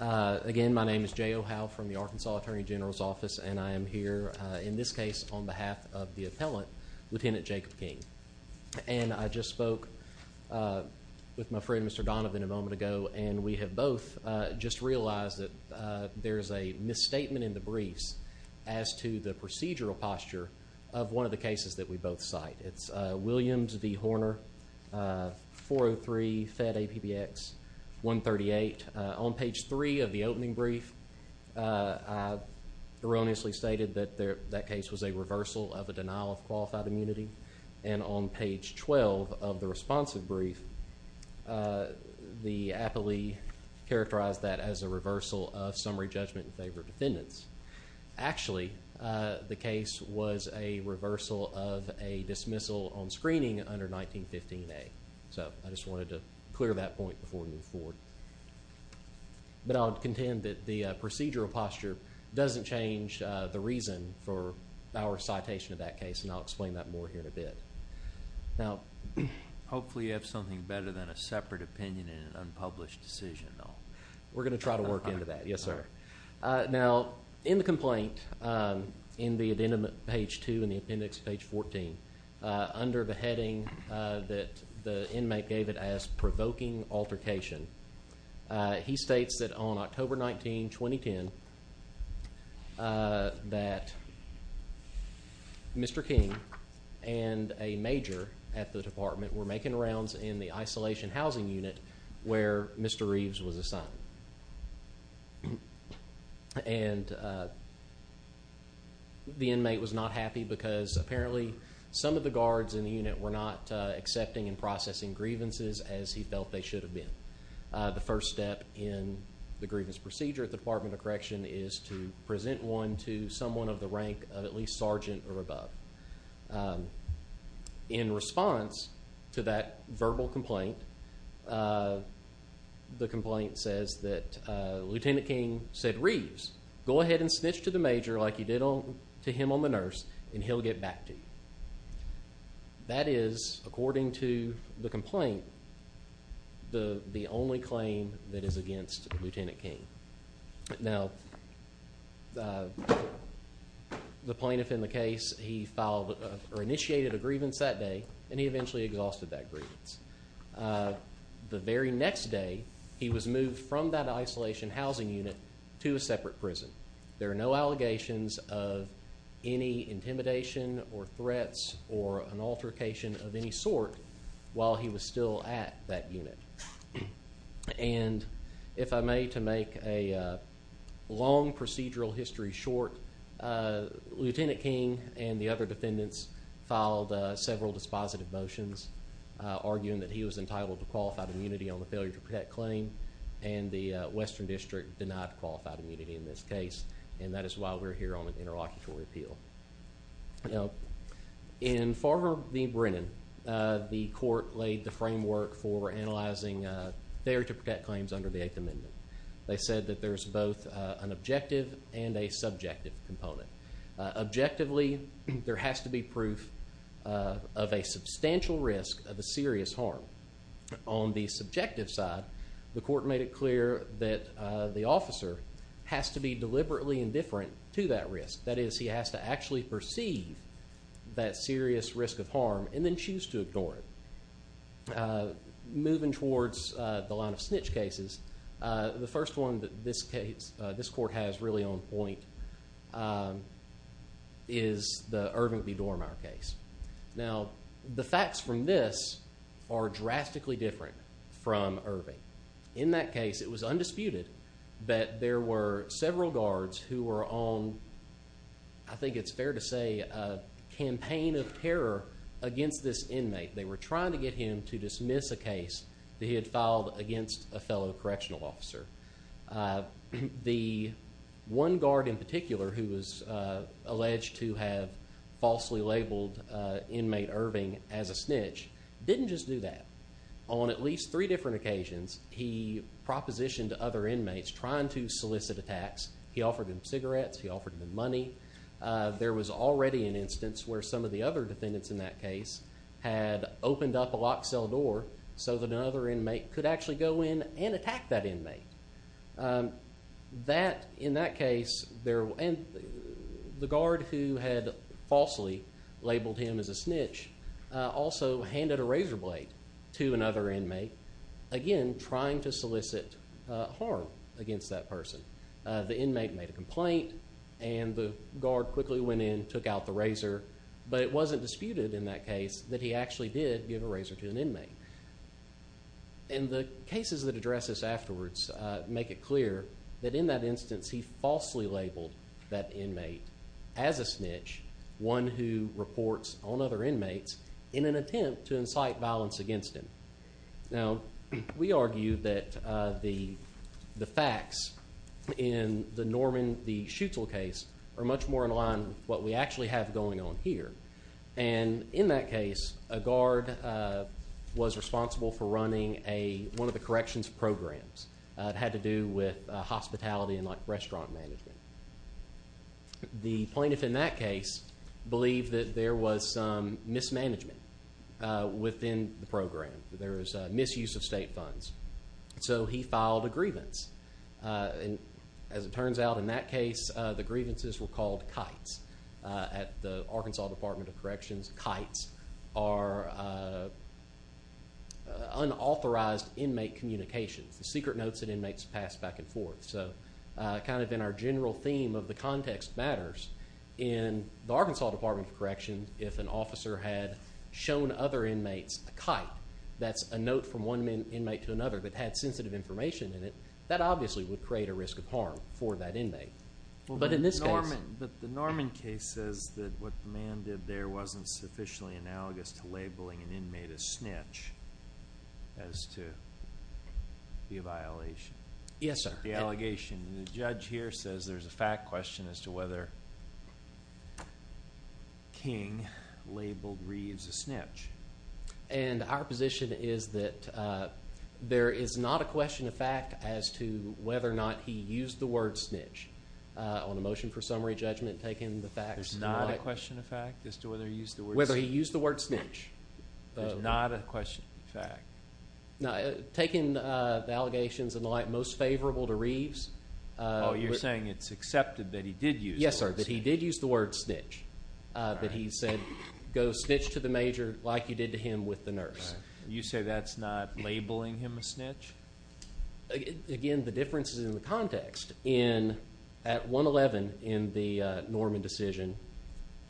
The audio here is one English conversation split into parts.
Again, my name is Jay O'Howe from the Arkansas Attorney General's Office, and I am here in this case on behalf of the appellant, Lt. Jacob King. And I just spoke with my friend, Mr. Donovan, a moment ago, and we have both just realized that there is a misstatement in the briefs as to the procedural posture of one of the cases that we both cite. It's Williams v. Horner, 403 Fed APBX 138. On page 3 of the opening brief, I erroneously stated that that case was a reversal of a denial of qualified immunity. And on page 12 of the responsive brief, the appellee characterized that as a reversal of summary judgment in favor of defendants. Actually, the case was a reversal of a dismissal on screening under 1915A. So I just wanted to clear that point before we move forward. But I'll contend that the procedural posture doesn't change the reason for our citation of that case, and I'll explain that more here in a bit. Now, hopefully you have something better than a separate opinion in an unpublished decision, though. We're going to try to work into that. Yes, sir. Now, in the complaint, in the addendum at page 2 and the appendix at page 14, under the heading that the inmate gave it as provoking altercation, he states that on October 19, 2010, that Mr. King and a major at the department were making rounds in the isolation housing unit where Mr. Reeves was assigned. And the inmate was not happy because apparently some of the guards in the unit were not accepting and processing grievances as he felt they should have been. The first step in the grievance procedure at the Department of Correction is to present one to someone of the rank of at least sergeant or above. In response to that verbal complaint, the complaint says that Lieutenant King said, Reeves, go ahead and snitch to the major like you did to him on the nurse and he'll get back to you. That is, according to the complaint, the only claim that is against Lieutenant King. Now, the plaintiff in the case, he filed or initiated a grievance that day and he eventually exhausted that grievance. The very next day, he was moved from that isolation housing unit to a separate prison. There are no allegations of any intimidation or threats or an altercation of any sort while he was still at that unit. And if I may, to make a long procedural history short, Lieutenant King and the other defendants filed several dispositive motions arguing that he was entitled to qualified immunity on the failure to protect claim and the Western District denied qualified immunity in this case. And that is why we're here on an interlocutory appeal. Now, in Farver v. Brennan, the court laid the framework for analyzing failure to protect claims under the Eighth Amendment. They said that there's both an objective and a subjective component. Objectively, there has to be proof of a substantial risk of a serious harm. On the subjective side, the court made it clear that the officer has to be deliberately indifferent to that risk. That is, he has to actually perceive that serious risk of harm and then choose to ignore it. Moving towards the line of snitch cases, the first one that this court has really on point is the Irving v. Dormier case. Now, the facts from this are drastically different from Irving. In that case, it was undisputed that there were several guards who were on, I think it's fair to say, a campaign of terror against this inmate. They were trying to get him to dismiss a case that he had filed against a fellow correctional officer. The one guard in particular who was alleged to have falsely labeled inmate Irving as a snitch didn't just do that. On at least three different occasions, he propositioned other inmates trying to solicit attacks. He offered them cigarettes. He offered them money. There was already an instance where some of the other defendants in that case had opened up a locked cell door so that another inmate could actually go in and attack that inmate. In that case, the guard who had falsely labeled him as a snitch also handed a razor blade to another inmate, again trying to solicit harm against that person. The inmate made a complaint, and the guard quickly went in, took out the razor, but it wasn't disputed in that case that he actually did give a razor to an inmate. The cases that address this afterwards make it clear that in that instance, he falsely labeled that inmate as a snitch, one who reports on other inmates in an attempt to incite violence against him. Now, we argue that the facts in the Norman Schutzel case are much more in line with what we actually have going on here. In that case, a guard was responsible for running one of the corrections programs. It had to do with hospitality and restaurant management. The plaintiff in that case believed that there was some mismanagement within the program. There was misuse of state funds, so he filed a grievance. As it turns out, in that case, the grievances were called kites. At the Arkansas Department of Corrections, kites are unauthorized inmate communications, secret notes that inmates pass back and forth. So kind of in our general theme of the context matters, in the Arkansas Department of Corrections, if an officer had shown other inmates a kite, that's a note from one inmate to another that had sensitive information in it, that obviously would create a risk of harm for that inmate. But in this case— But the Norman case says that what the man did there wasn't sufficiently analogous to labeling an inmate a snitch as to be a violation. Yes, sir. The allegation. The judge here says there's a fact question as to whether King labeled Reeves a snitch. And our position is that there is not a question of fact as to whether or not he used the word snitch. On a motion for summary judgment, taking the facts— There's not a question of fact as to whether he used the word snitch. Whether he used the word snitch. There's not a question of fact. Taking the allegations and the like, most favorable to Reeves— Oh, you're saying it's accepted that he did use the word snitch. Yes, sir, that he did use the word snitch. That he said, go snitch to the major like you did to him with the nurse. You say that's not labeling him a snitch? Again, the difference is in the context. At 1-11 in the Norman decision,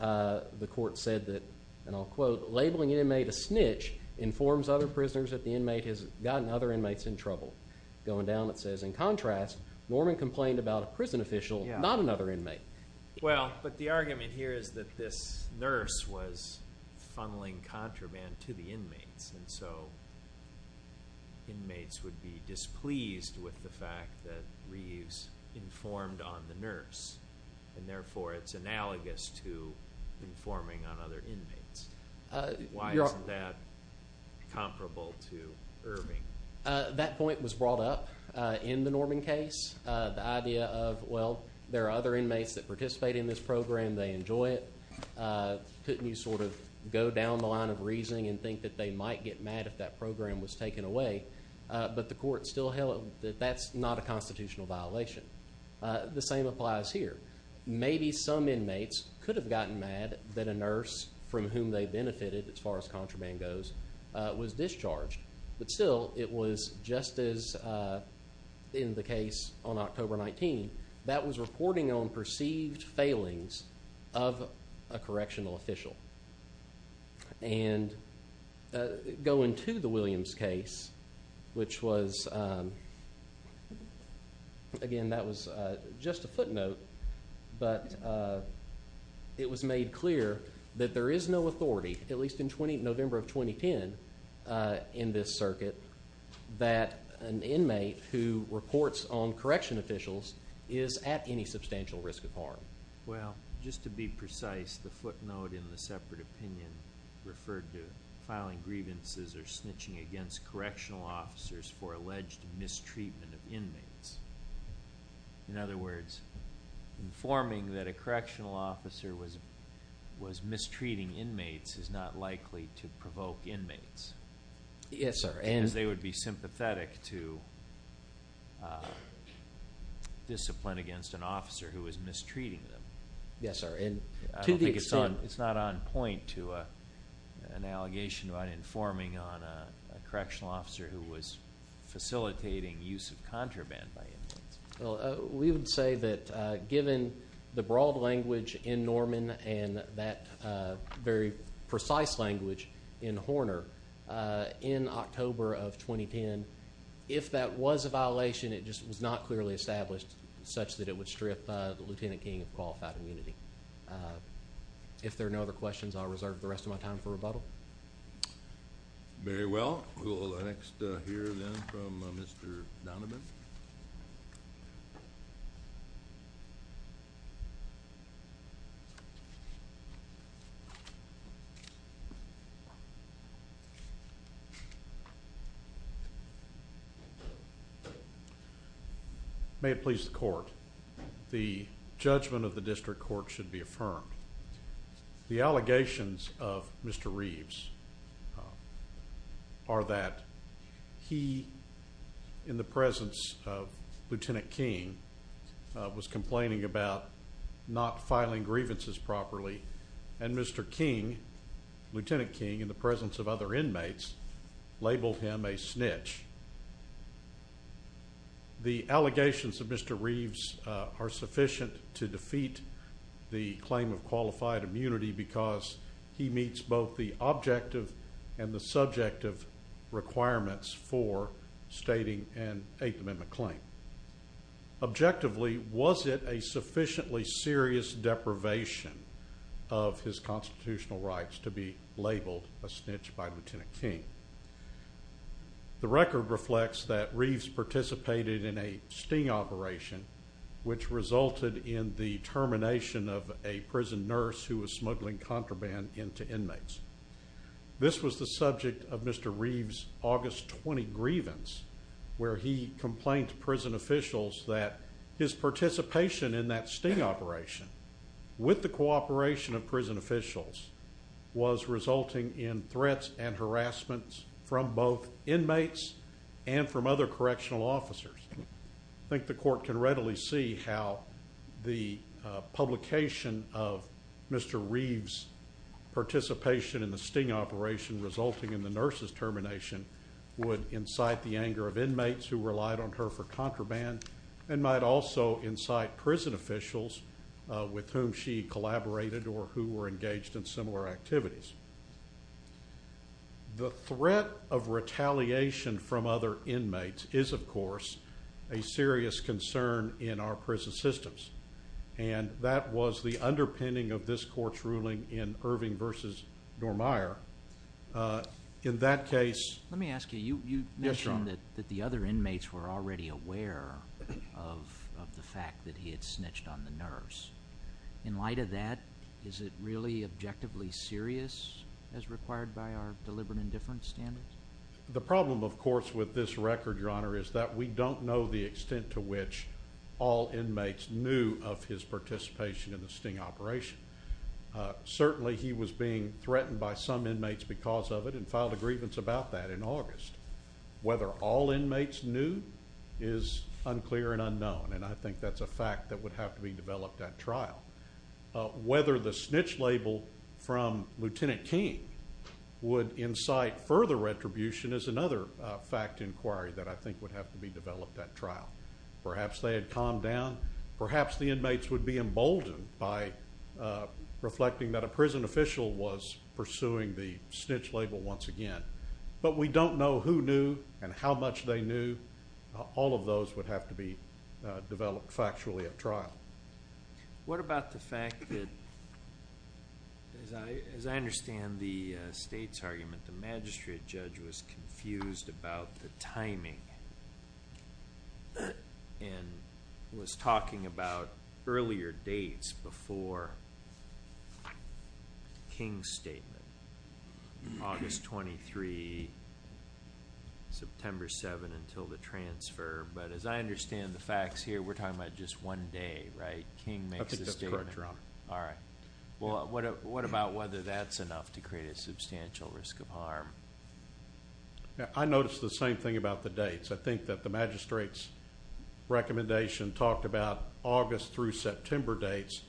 the court said that, and I'll quote, labeling an inmate a snitch informs other prisoners that the inmate has gotten other inmates in trouble. Going down, it says, in contrast, Norman complained about a prison official, not another inmate. Well, but the argument here is that this nurse was funneling contraband to the inmates. And so inmates would be displeased with the fact that Reeves informed on the nurse. And therefore, it's analogous to informing on other inmates. Why isn't that comparable to Irving? That point was brought up in the Norman case. The idea of, well, there are other inmates that participate in this program. They enjoy it. Couldn't you sort of go down the line of reasoning and think that they might get mad if that program was taken away? But the court still held that that's not a constitutional violation. The same applies here. Maybe some inmates could have gotten mad that a nurse from whom they benefited, as far as contraband goes, was discharged. But still, it was just as in the case on October 19, that was reporting on perceived failings of a correctional official. And going to the Williams case, which was, again, that was just a footnote. But it was made clear that there is no authority, at least in November of 2010, in this circuit, that an inmate who reports on correctional officials is at any substantial risk of harm. Well, just to be precise, the footnote in the separate opinion referred to filing grievances or snitching against correctional officers for alleged mistreatment of inmates. In other words, informing that a correctional officer was mistreating inmates is not likely to provoke inmates. Yes, sir. Because they would be sympathetic to discipline against an officer who is mistreating them. Yes, sir. I don't think it's not on point to an allegation about informing on a correctional officer who was facilitating use of contraband by inmates. Well, we would say that given the broad language in Norman and that very precise language in Horner, in October of 2010, if that was a violation, it just was not clearly established such that it would strip the Lieutenant King of qualified immunity. If there are no other questions, I'll reserve the rest of my time for rebuttal. Very well. We'll next hear then from Mr. Donovan. May it please the court. The judgment of the district court should be affirmed. The allegations of Mr. Reeves are that he, in the presence of Lieutenant King, was complaining about not filing grievances properly, and Mr. King, Lieutenant King, in the presence of other inmates, labeled him a snitch. The allegations of Mr. Reeves are sufficient to defeat the claim of qualified immunity because he meets both the objective and the subjective requirements for stating an Eighth Amendment claim. Objectively, was it a sufficiently serious deprivation of his constitutional rights to be labeled a snitch by Lieutenant King? The record reflects that Reeves participated in a sting operation, which resulted in the termination of a prison nurse who was smuggling contraband into inmates. This was the subject of Mr. Reeves' August 20 grievance, where he complained to prison officials that his participation in that sting operation, with the cooperation of prison officials, was resulting in threats and harassment from both inmates and from other correctional officers. I think the court can readily see how the publication of Mr. Reeves' participation in the sting operation resulting in the nurse's termination would incite the anger of inmates who relied on her for contraband and might also incite prison officials with whom she collaborated or who were engaged in similar activities. The threat of retaliation from other inmates is, of course, a serious concern in our prison systems, and that was the underpinning of this court's ruling in Irving v. Normeyer. In that case, let me ask you, you mentioned that the other inmates were already aware of the fact that he had snitched on the nurse. In light of that, is it really objectively serious as required by our deliberate indifference standards? The problem, of course, with this record, Your Honor, is that we don't know the extent to which all inmates knew of his participation in the sting operation. Certainly, he was being threatened by some inmates because of it and filed a grievance about that in August. Whether all inmates knew is unclear and unknown, and I think that's a fact that would have to be developed at trial. Whether the snitch label from Lieutenant King would incite further retribution is another fact inquiry that I think would have to be developed at trial. Perhaps they had calmed down. Perhaps the inmates would be emboldened by reflecting that a prison official was pursuing the snitch label once again. But we don't know who knew and how much they knew. All of those would have to be developed factually at trial. What about the fact that, as I understand the State's argument, the magistrate judge was confused about the timing and was talking about earlier dates before King's statement, August 23, September 7, until the transfer. But as I understand the facts here, we're talking about just one day, right? King makes the statement. Correct, Your Honor. All right. Well, what about whether that's enough to create a substantial risk of harm? I noticed the same thing about the dates. I think that the magistrate's recommendation talked about August through September dates,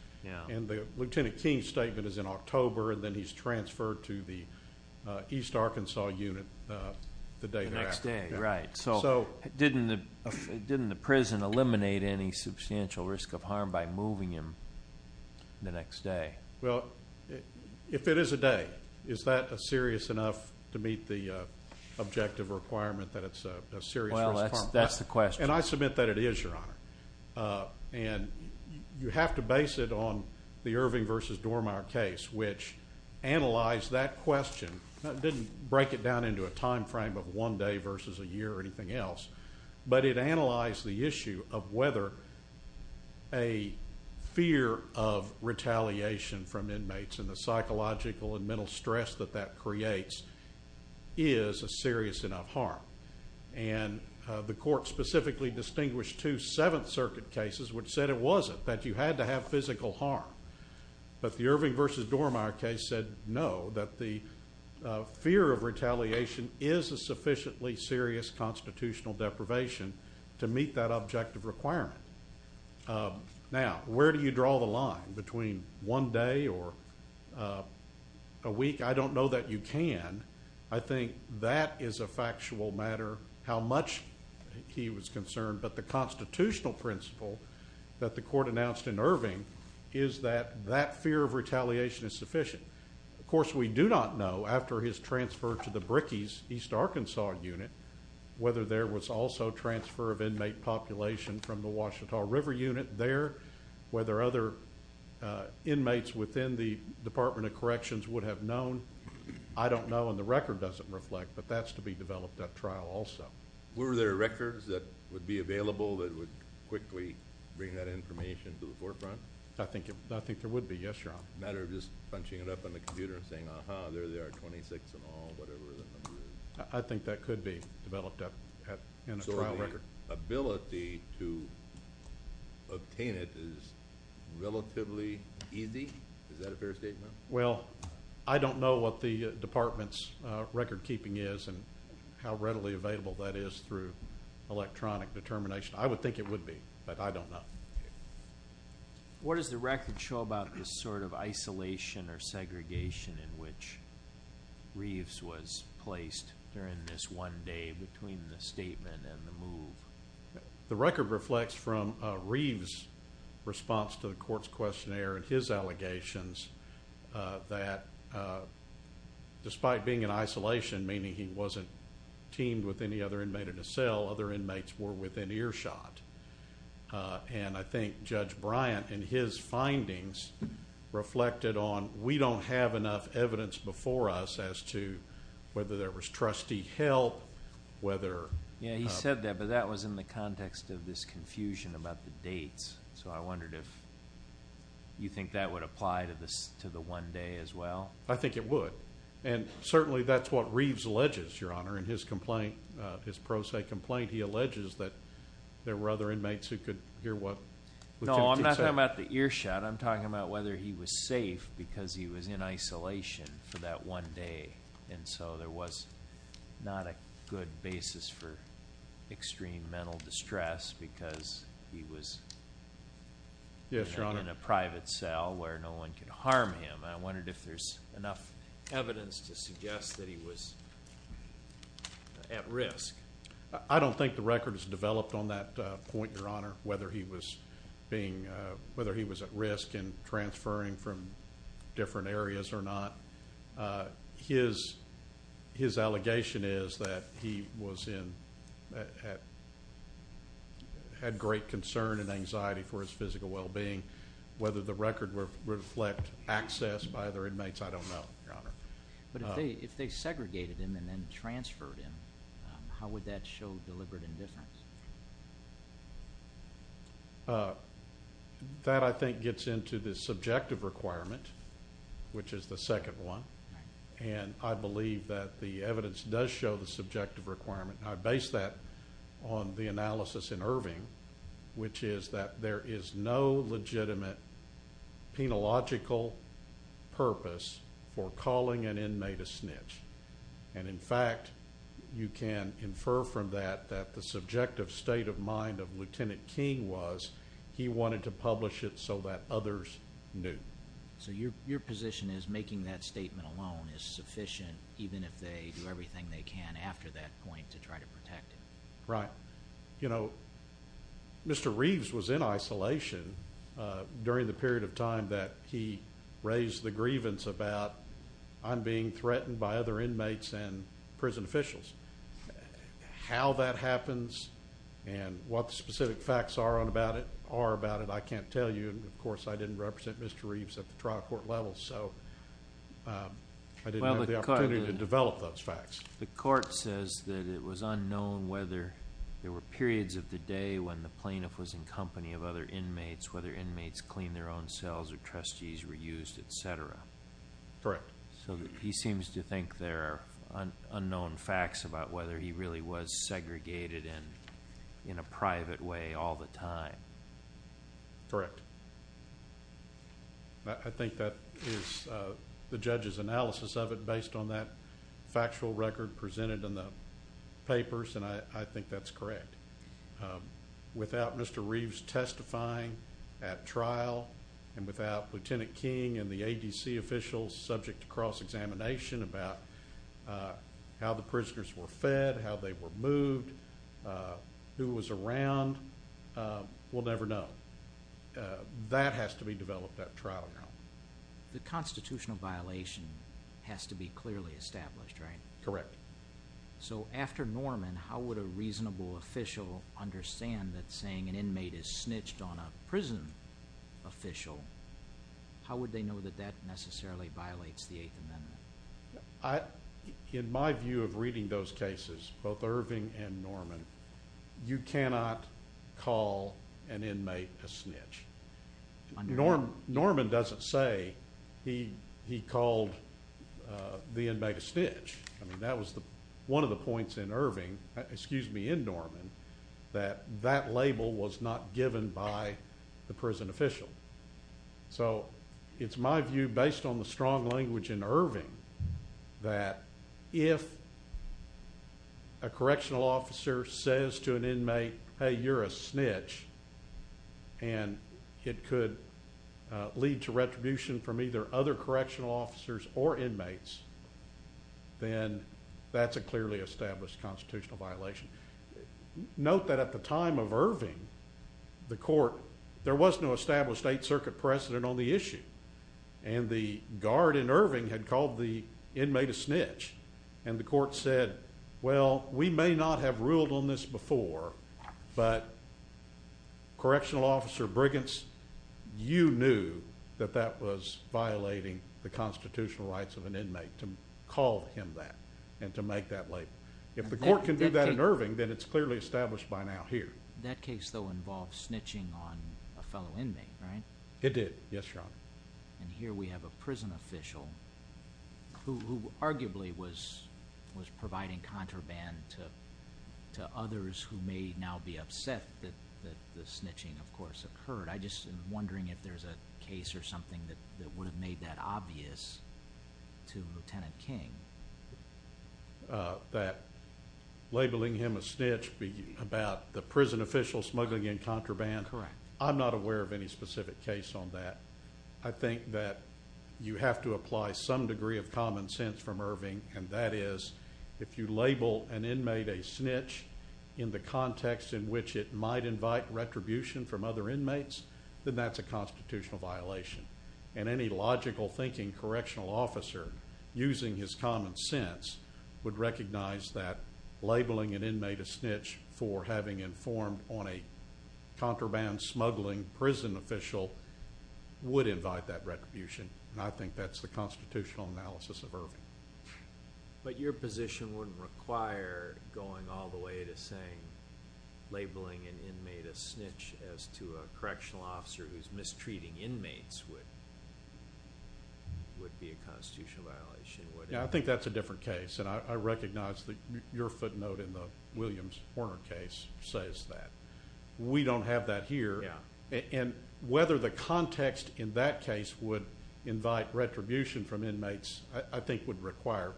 and the Lieutenant King's statement is in October, and then he's transferred to the East Arkansas unit the day thereafter. The next day, right. So didn't the prison eliminate any substantial risk of harm by moving him the next day? Well, if it is a day, is that serious enough to meet the objective requirement that it's a serious risk of harm? Well, that's the question. And I submit that it is, Your Honor. And you have to base it on the Irving v. Dormeyer case, which analyzed that question. It didn't break it down into a time frame of one day versus a year or anything else, but it analyzed the issue of whether a fear of retaliation from inmates and the psychological and mental stress that that creates is a serious enough harm. And the court specifically distinguished two Seventh Circuit cases which said it wasn't, that you had to have physical harm. But the Irving v. Dormeyer case said no, that the fear of retaliation is a sufficiently serious constitutional deprivation to meet that objective requirement. Now, where do you draw the line between one day or a week? I don't know that you can. I think that is a factual matter, how much he was concerned. But the constitutional principle that the court announced in Irving is that that fear of retaliation is sufficient. Of course, we do not know, after his transfer to the Brickey's East Arkansas unit, whether there was also transfer of inmate population from the Ouachita River unit there, whether other inmates within the Department of Corrections would have known. I don't know, and the record doesn't reflect, but that's to be developed at trial also. Were there records that would be available that would quickly bring that information to the forefront? I think there would be, yes, Your Honor. A matter of just punching it up on the computer and saying, uh-huh, there they are, 26 and all, whatever the number is. I think that could be developed in a trial record. So the ability to obtain it is relatively easy? Is that a fair statement? Well, I don't know what the Department's record keeping is and how readily available that is through electronic determination. I would think it would be, but I don't know. What does the record show about this sort of isolation or segregation in which Reeves was placed during this one day between the statement and the move? The record reflects from Reeves' response to the court's questionnaire and his allegations that despite being in isolation, meaning he wasn't teamed with any other inmate in a cell, other inmates were within earshot. And I think Judge Bryant in his findings reflected on, we don't have enough evidence before us as to whether there was trustee help, whether. Yeah, he said that, but that was in the context of this confusion about the dates. So I wondered if you think that would apply to the one day as well? I think it would. And certainly that's what Reeves alleges, Your Honor, in his complaint, his pro se complaint. He alleges that there were other inmates who could hear what. No, I'm not talking about the earshot. I'm talking about whether he was safe because he was in isolation for that one day. And so there was not a good basis for extreme mental distress because he was in a private cell where no one could harm him. And I wondered if there's enough evidence to suggest that he was at risk. I don't think the record is developed on that point, Your Honor, whether he was at risk and transferring from different areas or not. His allegation is that he had great concern and anxiety for his physical well-being. Whether the record would reflect access by other inmates, I don't know, Your Honor. But if they segregated him and then transferred him, how would that show deliberate indifference? That, I think, gets into the subjective requirement, which is the second one. And I believe that the evidence does show the subjective requirement. I base that on the analysis in Irving, which is that there is no legitimate penological purpose for calling an inmate a snitch. And, in fact, you can infer from that that the subjective state of mind of Lieutenant King was he wanted to publish it so that others knew. So your position is making that statement alone is sufficient even if they do everything they can after that point to try to protect him? Right. You know, Mr. Reeves was in isolation during the period of time that he raised the grievance about I'm being threatened by other inmates and prison officials. How that happens and what the specific facts are about it, I can't tell you. And, of course, I didn't represent Mr. Reeves at the trial court level. So I didn't have the opportunity to develop those facts. The court says that it was unknown whether there were periods of the day when the plaintiff was in company of other inmates, whether inmates cleaned their own cells or trustees were used, etc. Correct. So he seems to think there are unknown facts about whether he really was segregated in a private way all the time. Correct. I think that is the judge's analysis of it based on that factual record presented in the papers, and I think that's correct. Without Mr. Reeves testifying at trial and without Lieutenant King and the ADC officials subject to cross-examination about how the prisoners were fed, how they were moved, who was around, we'll never know. That has to be developed at trial now. The constitutional violation has to be clearly established, right? Correct. So after Norman, how would a reasonable official understand that saying an inmate is snitched on a prison official, how would they know that that necessarily violates the Eighth Amendment? In my view of reading those cases, both Irving and Norman, you cannot call an inmate a snitch. I mean, that was one of the points in Irving, excuse me, in Norman, that that label was not given by the prison official. So it's my view, based on the strong language in Irving, that if a correctional officer says to an inmate, hey, you're a snitch, and it could lead to retribution from either other correctional officers or inmates, then that's a clearly established constitutional violation. Note that at the time of Irving, the court, there was no established Eighth Circuit precedent on the issue, and the guard in Irving had called the inmate a snitch, and the court said, well, we may not have ruled on this before, but Correctional Officer Briggins, you knew that that was violating the constitutional rights of an inmate to call him that and to make that label. If the court can do that in Irving, then it's clearly established by now here. That case, though, involved snitching on a fellow inmate, right? It did, yes, Your Honor. And here we have a prison official who arguably was providing contraband to others who may now be upset that the snitching, of course, occurred. I'm just wondering if there's a case or something that would have made that obvious to Lieutenant King. That labeling him a snitch about the prison official smuggling in contraband? Correct. I'm not aware of any specific case on that. I think that you have to apply some degree of common sense from Irving, and that is if you label an inmate a snitch in the context in which it might invite retribution from other inmates, then that's a constitutional violation. And any logical-thinking correctional officer, using his common sense, would recognize that labeling an inmate a snitch for having informed on a contraband smuggling prison official would invite that retribution, and I think that's the constitutional analysis of Irving. But your position wouldn't require going all the way to saying labeling an inmate a snitch as to a correctional officer who's mistreating inmates would be a constitutional violation, would it? I think that's a different case, and I recognize that your footnote in the Williams Horner case says that. We don't have that here. Yeah. And whether the context in that case would invite retribution from inmates I think would require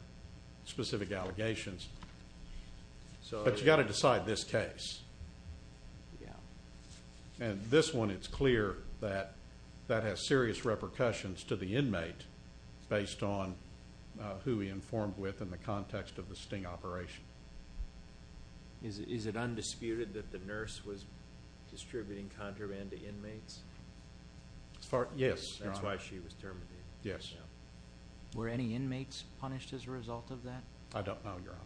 specific allegations. But you've got to decide this case. Yeah. And this one, it's clear that that has serious repercussions to the inmate based on who he informed with in the context of the sting operation. Is it undisputed that the nurse was distributing contraband to inmates? Yes. That's why she was terminated. Yes. Were any inmates punished as a result of that? I don't know, Your Honor.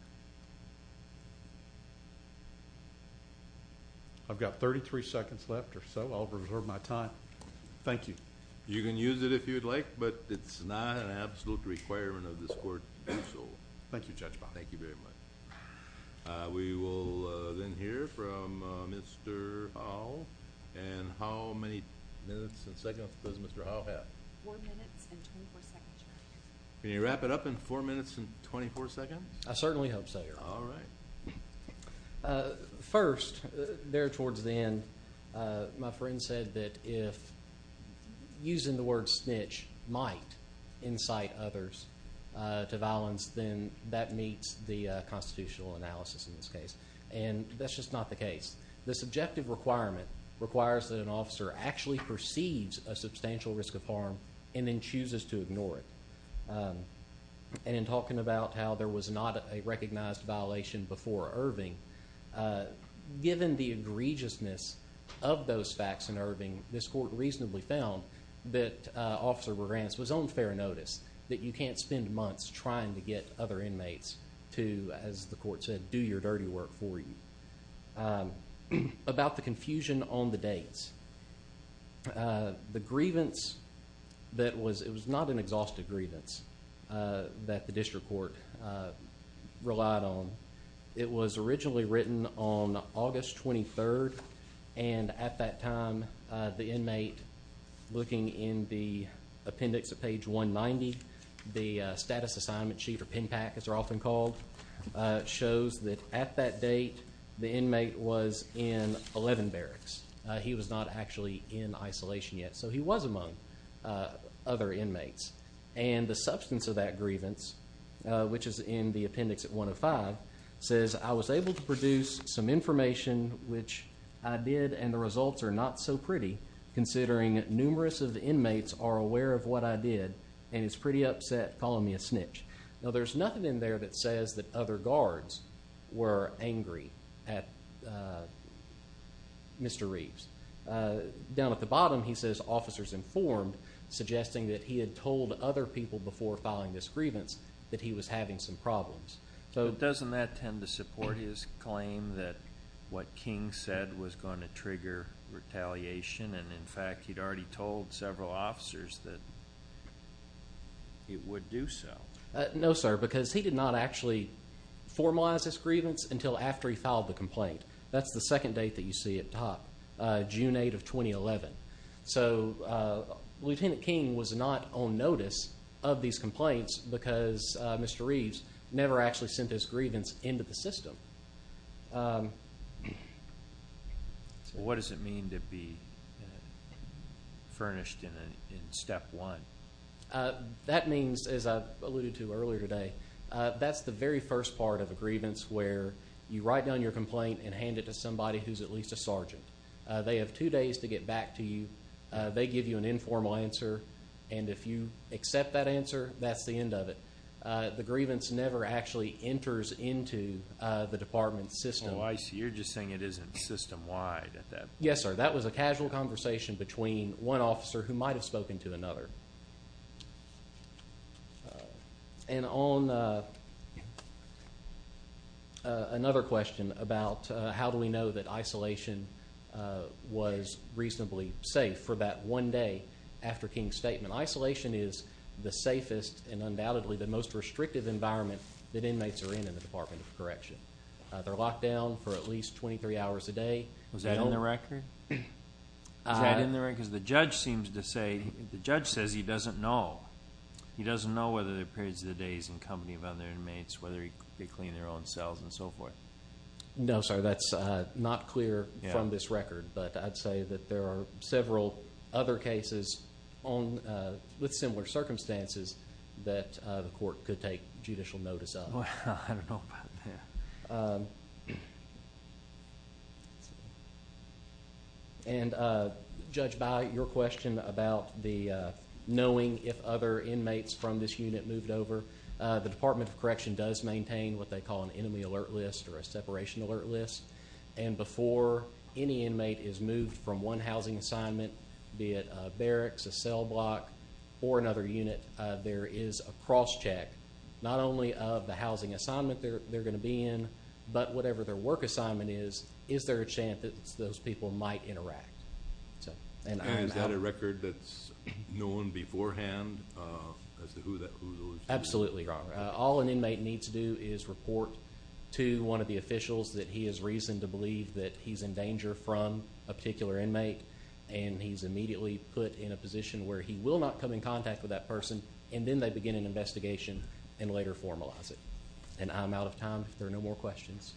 I've got 33 seconds left or so. I'll reserve my time. Thank you. You can use it if you'd like, but it's not an absolute requirement of this court to do so. Thank you, Judge Bond. Thank you very much. We will then hear from Mr. Howell. And how many minutes and seconds does Mr. Howell have? Four minutes and 24 seconds, Your Honor. Can you wrap it up in four minutes and 24 seconds? I certainly hope so, Your Honor. All right. First, there towards the end, my friend said that if using the word snitch might incite others to violence, then that meets the constitutional analysis in this case. And that's just not the case. The subjective requirement requires that an officer actually perceives a substantial risk of harm and then chooses to ignore it. And in talking about how there was not a recognized violation before Irving, given the egregiousness of those facts in Irving, this court reasonably found that Officer Moranis was on fair notice, that you can't spend months trying to get other inmates to, as the court said, do your dirty work for you. About the confusion on the dates, the grievance that was not an exhaustive grievance that the district court relied on. It was originally written on August 23rd. And at that time, the inmate, looking in the appendix at page 190, the status assignment sheet or pen pack, as they're often called, shows that at that date the inmate was in 11 barracks. He was not actually in isolation yet, so he was among other inmates. And the substance of that grievance, which is in the appendix at 105, says, I was able to produce some information, which I did, and the results are not so pretty, considering numerous of the inmates are aware of what I did and is pretty upset calling me a snitch. Now, there's nothing in there that says that other guards were angry at Mr. Reeves. Down at the bottom, he says officers informed, suggesting that he had told other people before filing this grievance that he was having some problems. Doesn't that tend to support his claim that what King said was going to trigger retaliation and, in fact, he'd already told several officers that it would do so? No, sir, because he did not actually formalize this grievance until after he filed the complaint. That's the second date that you see at the top, June 8th of 2011. So, Lieutenant King was not on notice of these complaints because Mr. Reeves never actually sent this grievance into the system. What does it mean to be furnished in Step 1? That means, as I alluded to earlier today, that's the very first part of a grievance where you write down your complaint and hand it to somebody who's at least a sergeant. They have two days to get back to you. They give you an informal answer, and if you accept that answer, that's the end of it. The grievance never actually enters into the department's system. Oh, I see. You're just saying it isn't system-wide at that point. Yes, sir. That was a casual conversation between one officer who might have spoken to another. And on another question about how do we know that isolation was reasonably safe for that one day after King's statement. Isolation is the safest and undoubtedly the most restrictive environment that inmates are in in the Department of Correction. They're locked down for at least 23 hours a day. Was that in the record? Was that in the record? Because the judge seems to say, the judge says he doesn't know. He doesn't know whether the periods of the day he's in company with other inmates, whether they clean their own cells and so forth. No, sir. That's not clear from this record. But I'd say that there are several other cases with similar circumstances that the court could take judicial notice of. Well, I don't know about that. And Judge Byer, your question about knowing if other inmates from this unit moved over. The Department of Correction does maintain what they call an enemy alert list or a separation alert list. And before any inmate is moved from one housing assignment, be it a barracks, a cell block, or another unit, there is a cross-check not only of the housing assignment they're going to be in, but whatever their work assignment is, is there a chance that those people might interact. And is that a record that's known beforehand as to who those people are? Absolutely, Your Honor. All an inmate needs to do is report to one of the officials that he has reason to believe that he's in danger from a particular inmate, and he's immediately put in a position where he will not come in contact with that person, and then they begin an investigation and later formalize it. And I'm out of time. If there are no more questions,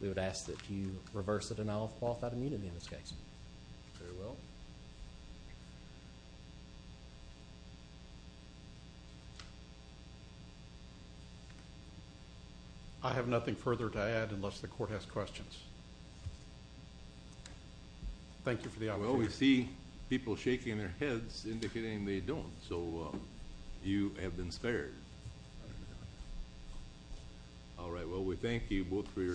we would ask that you reverse the denial of qualified immunity in this case. Farewell. I have nothing further to add unless the Court has questions. Thank you for the opportunity. Well, we see people shaking their heads indicating they don't. So you have been spared. All right. Well, we thank you both for your time.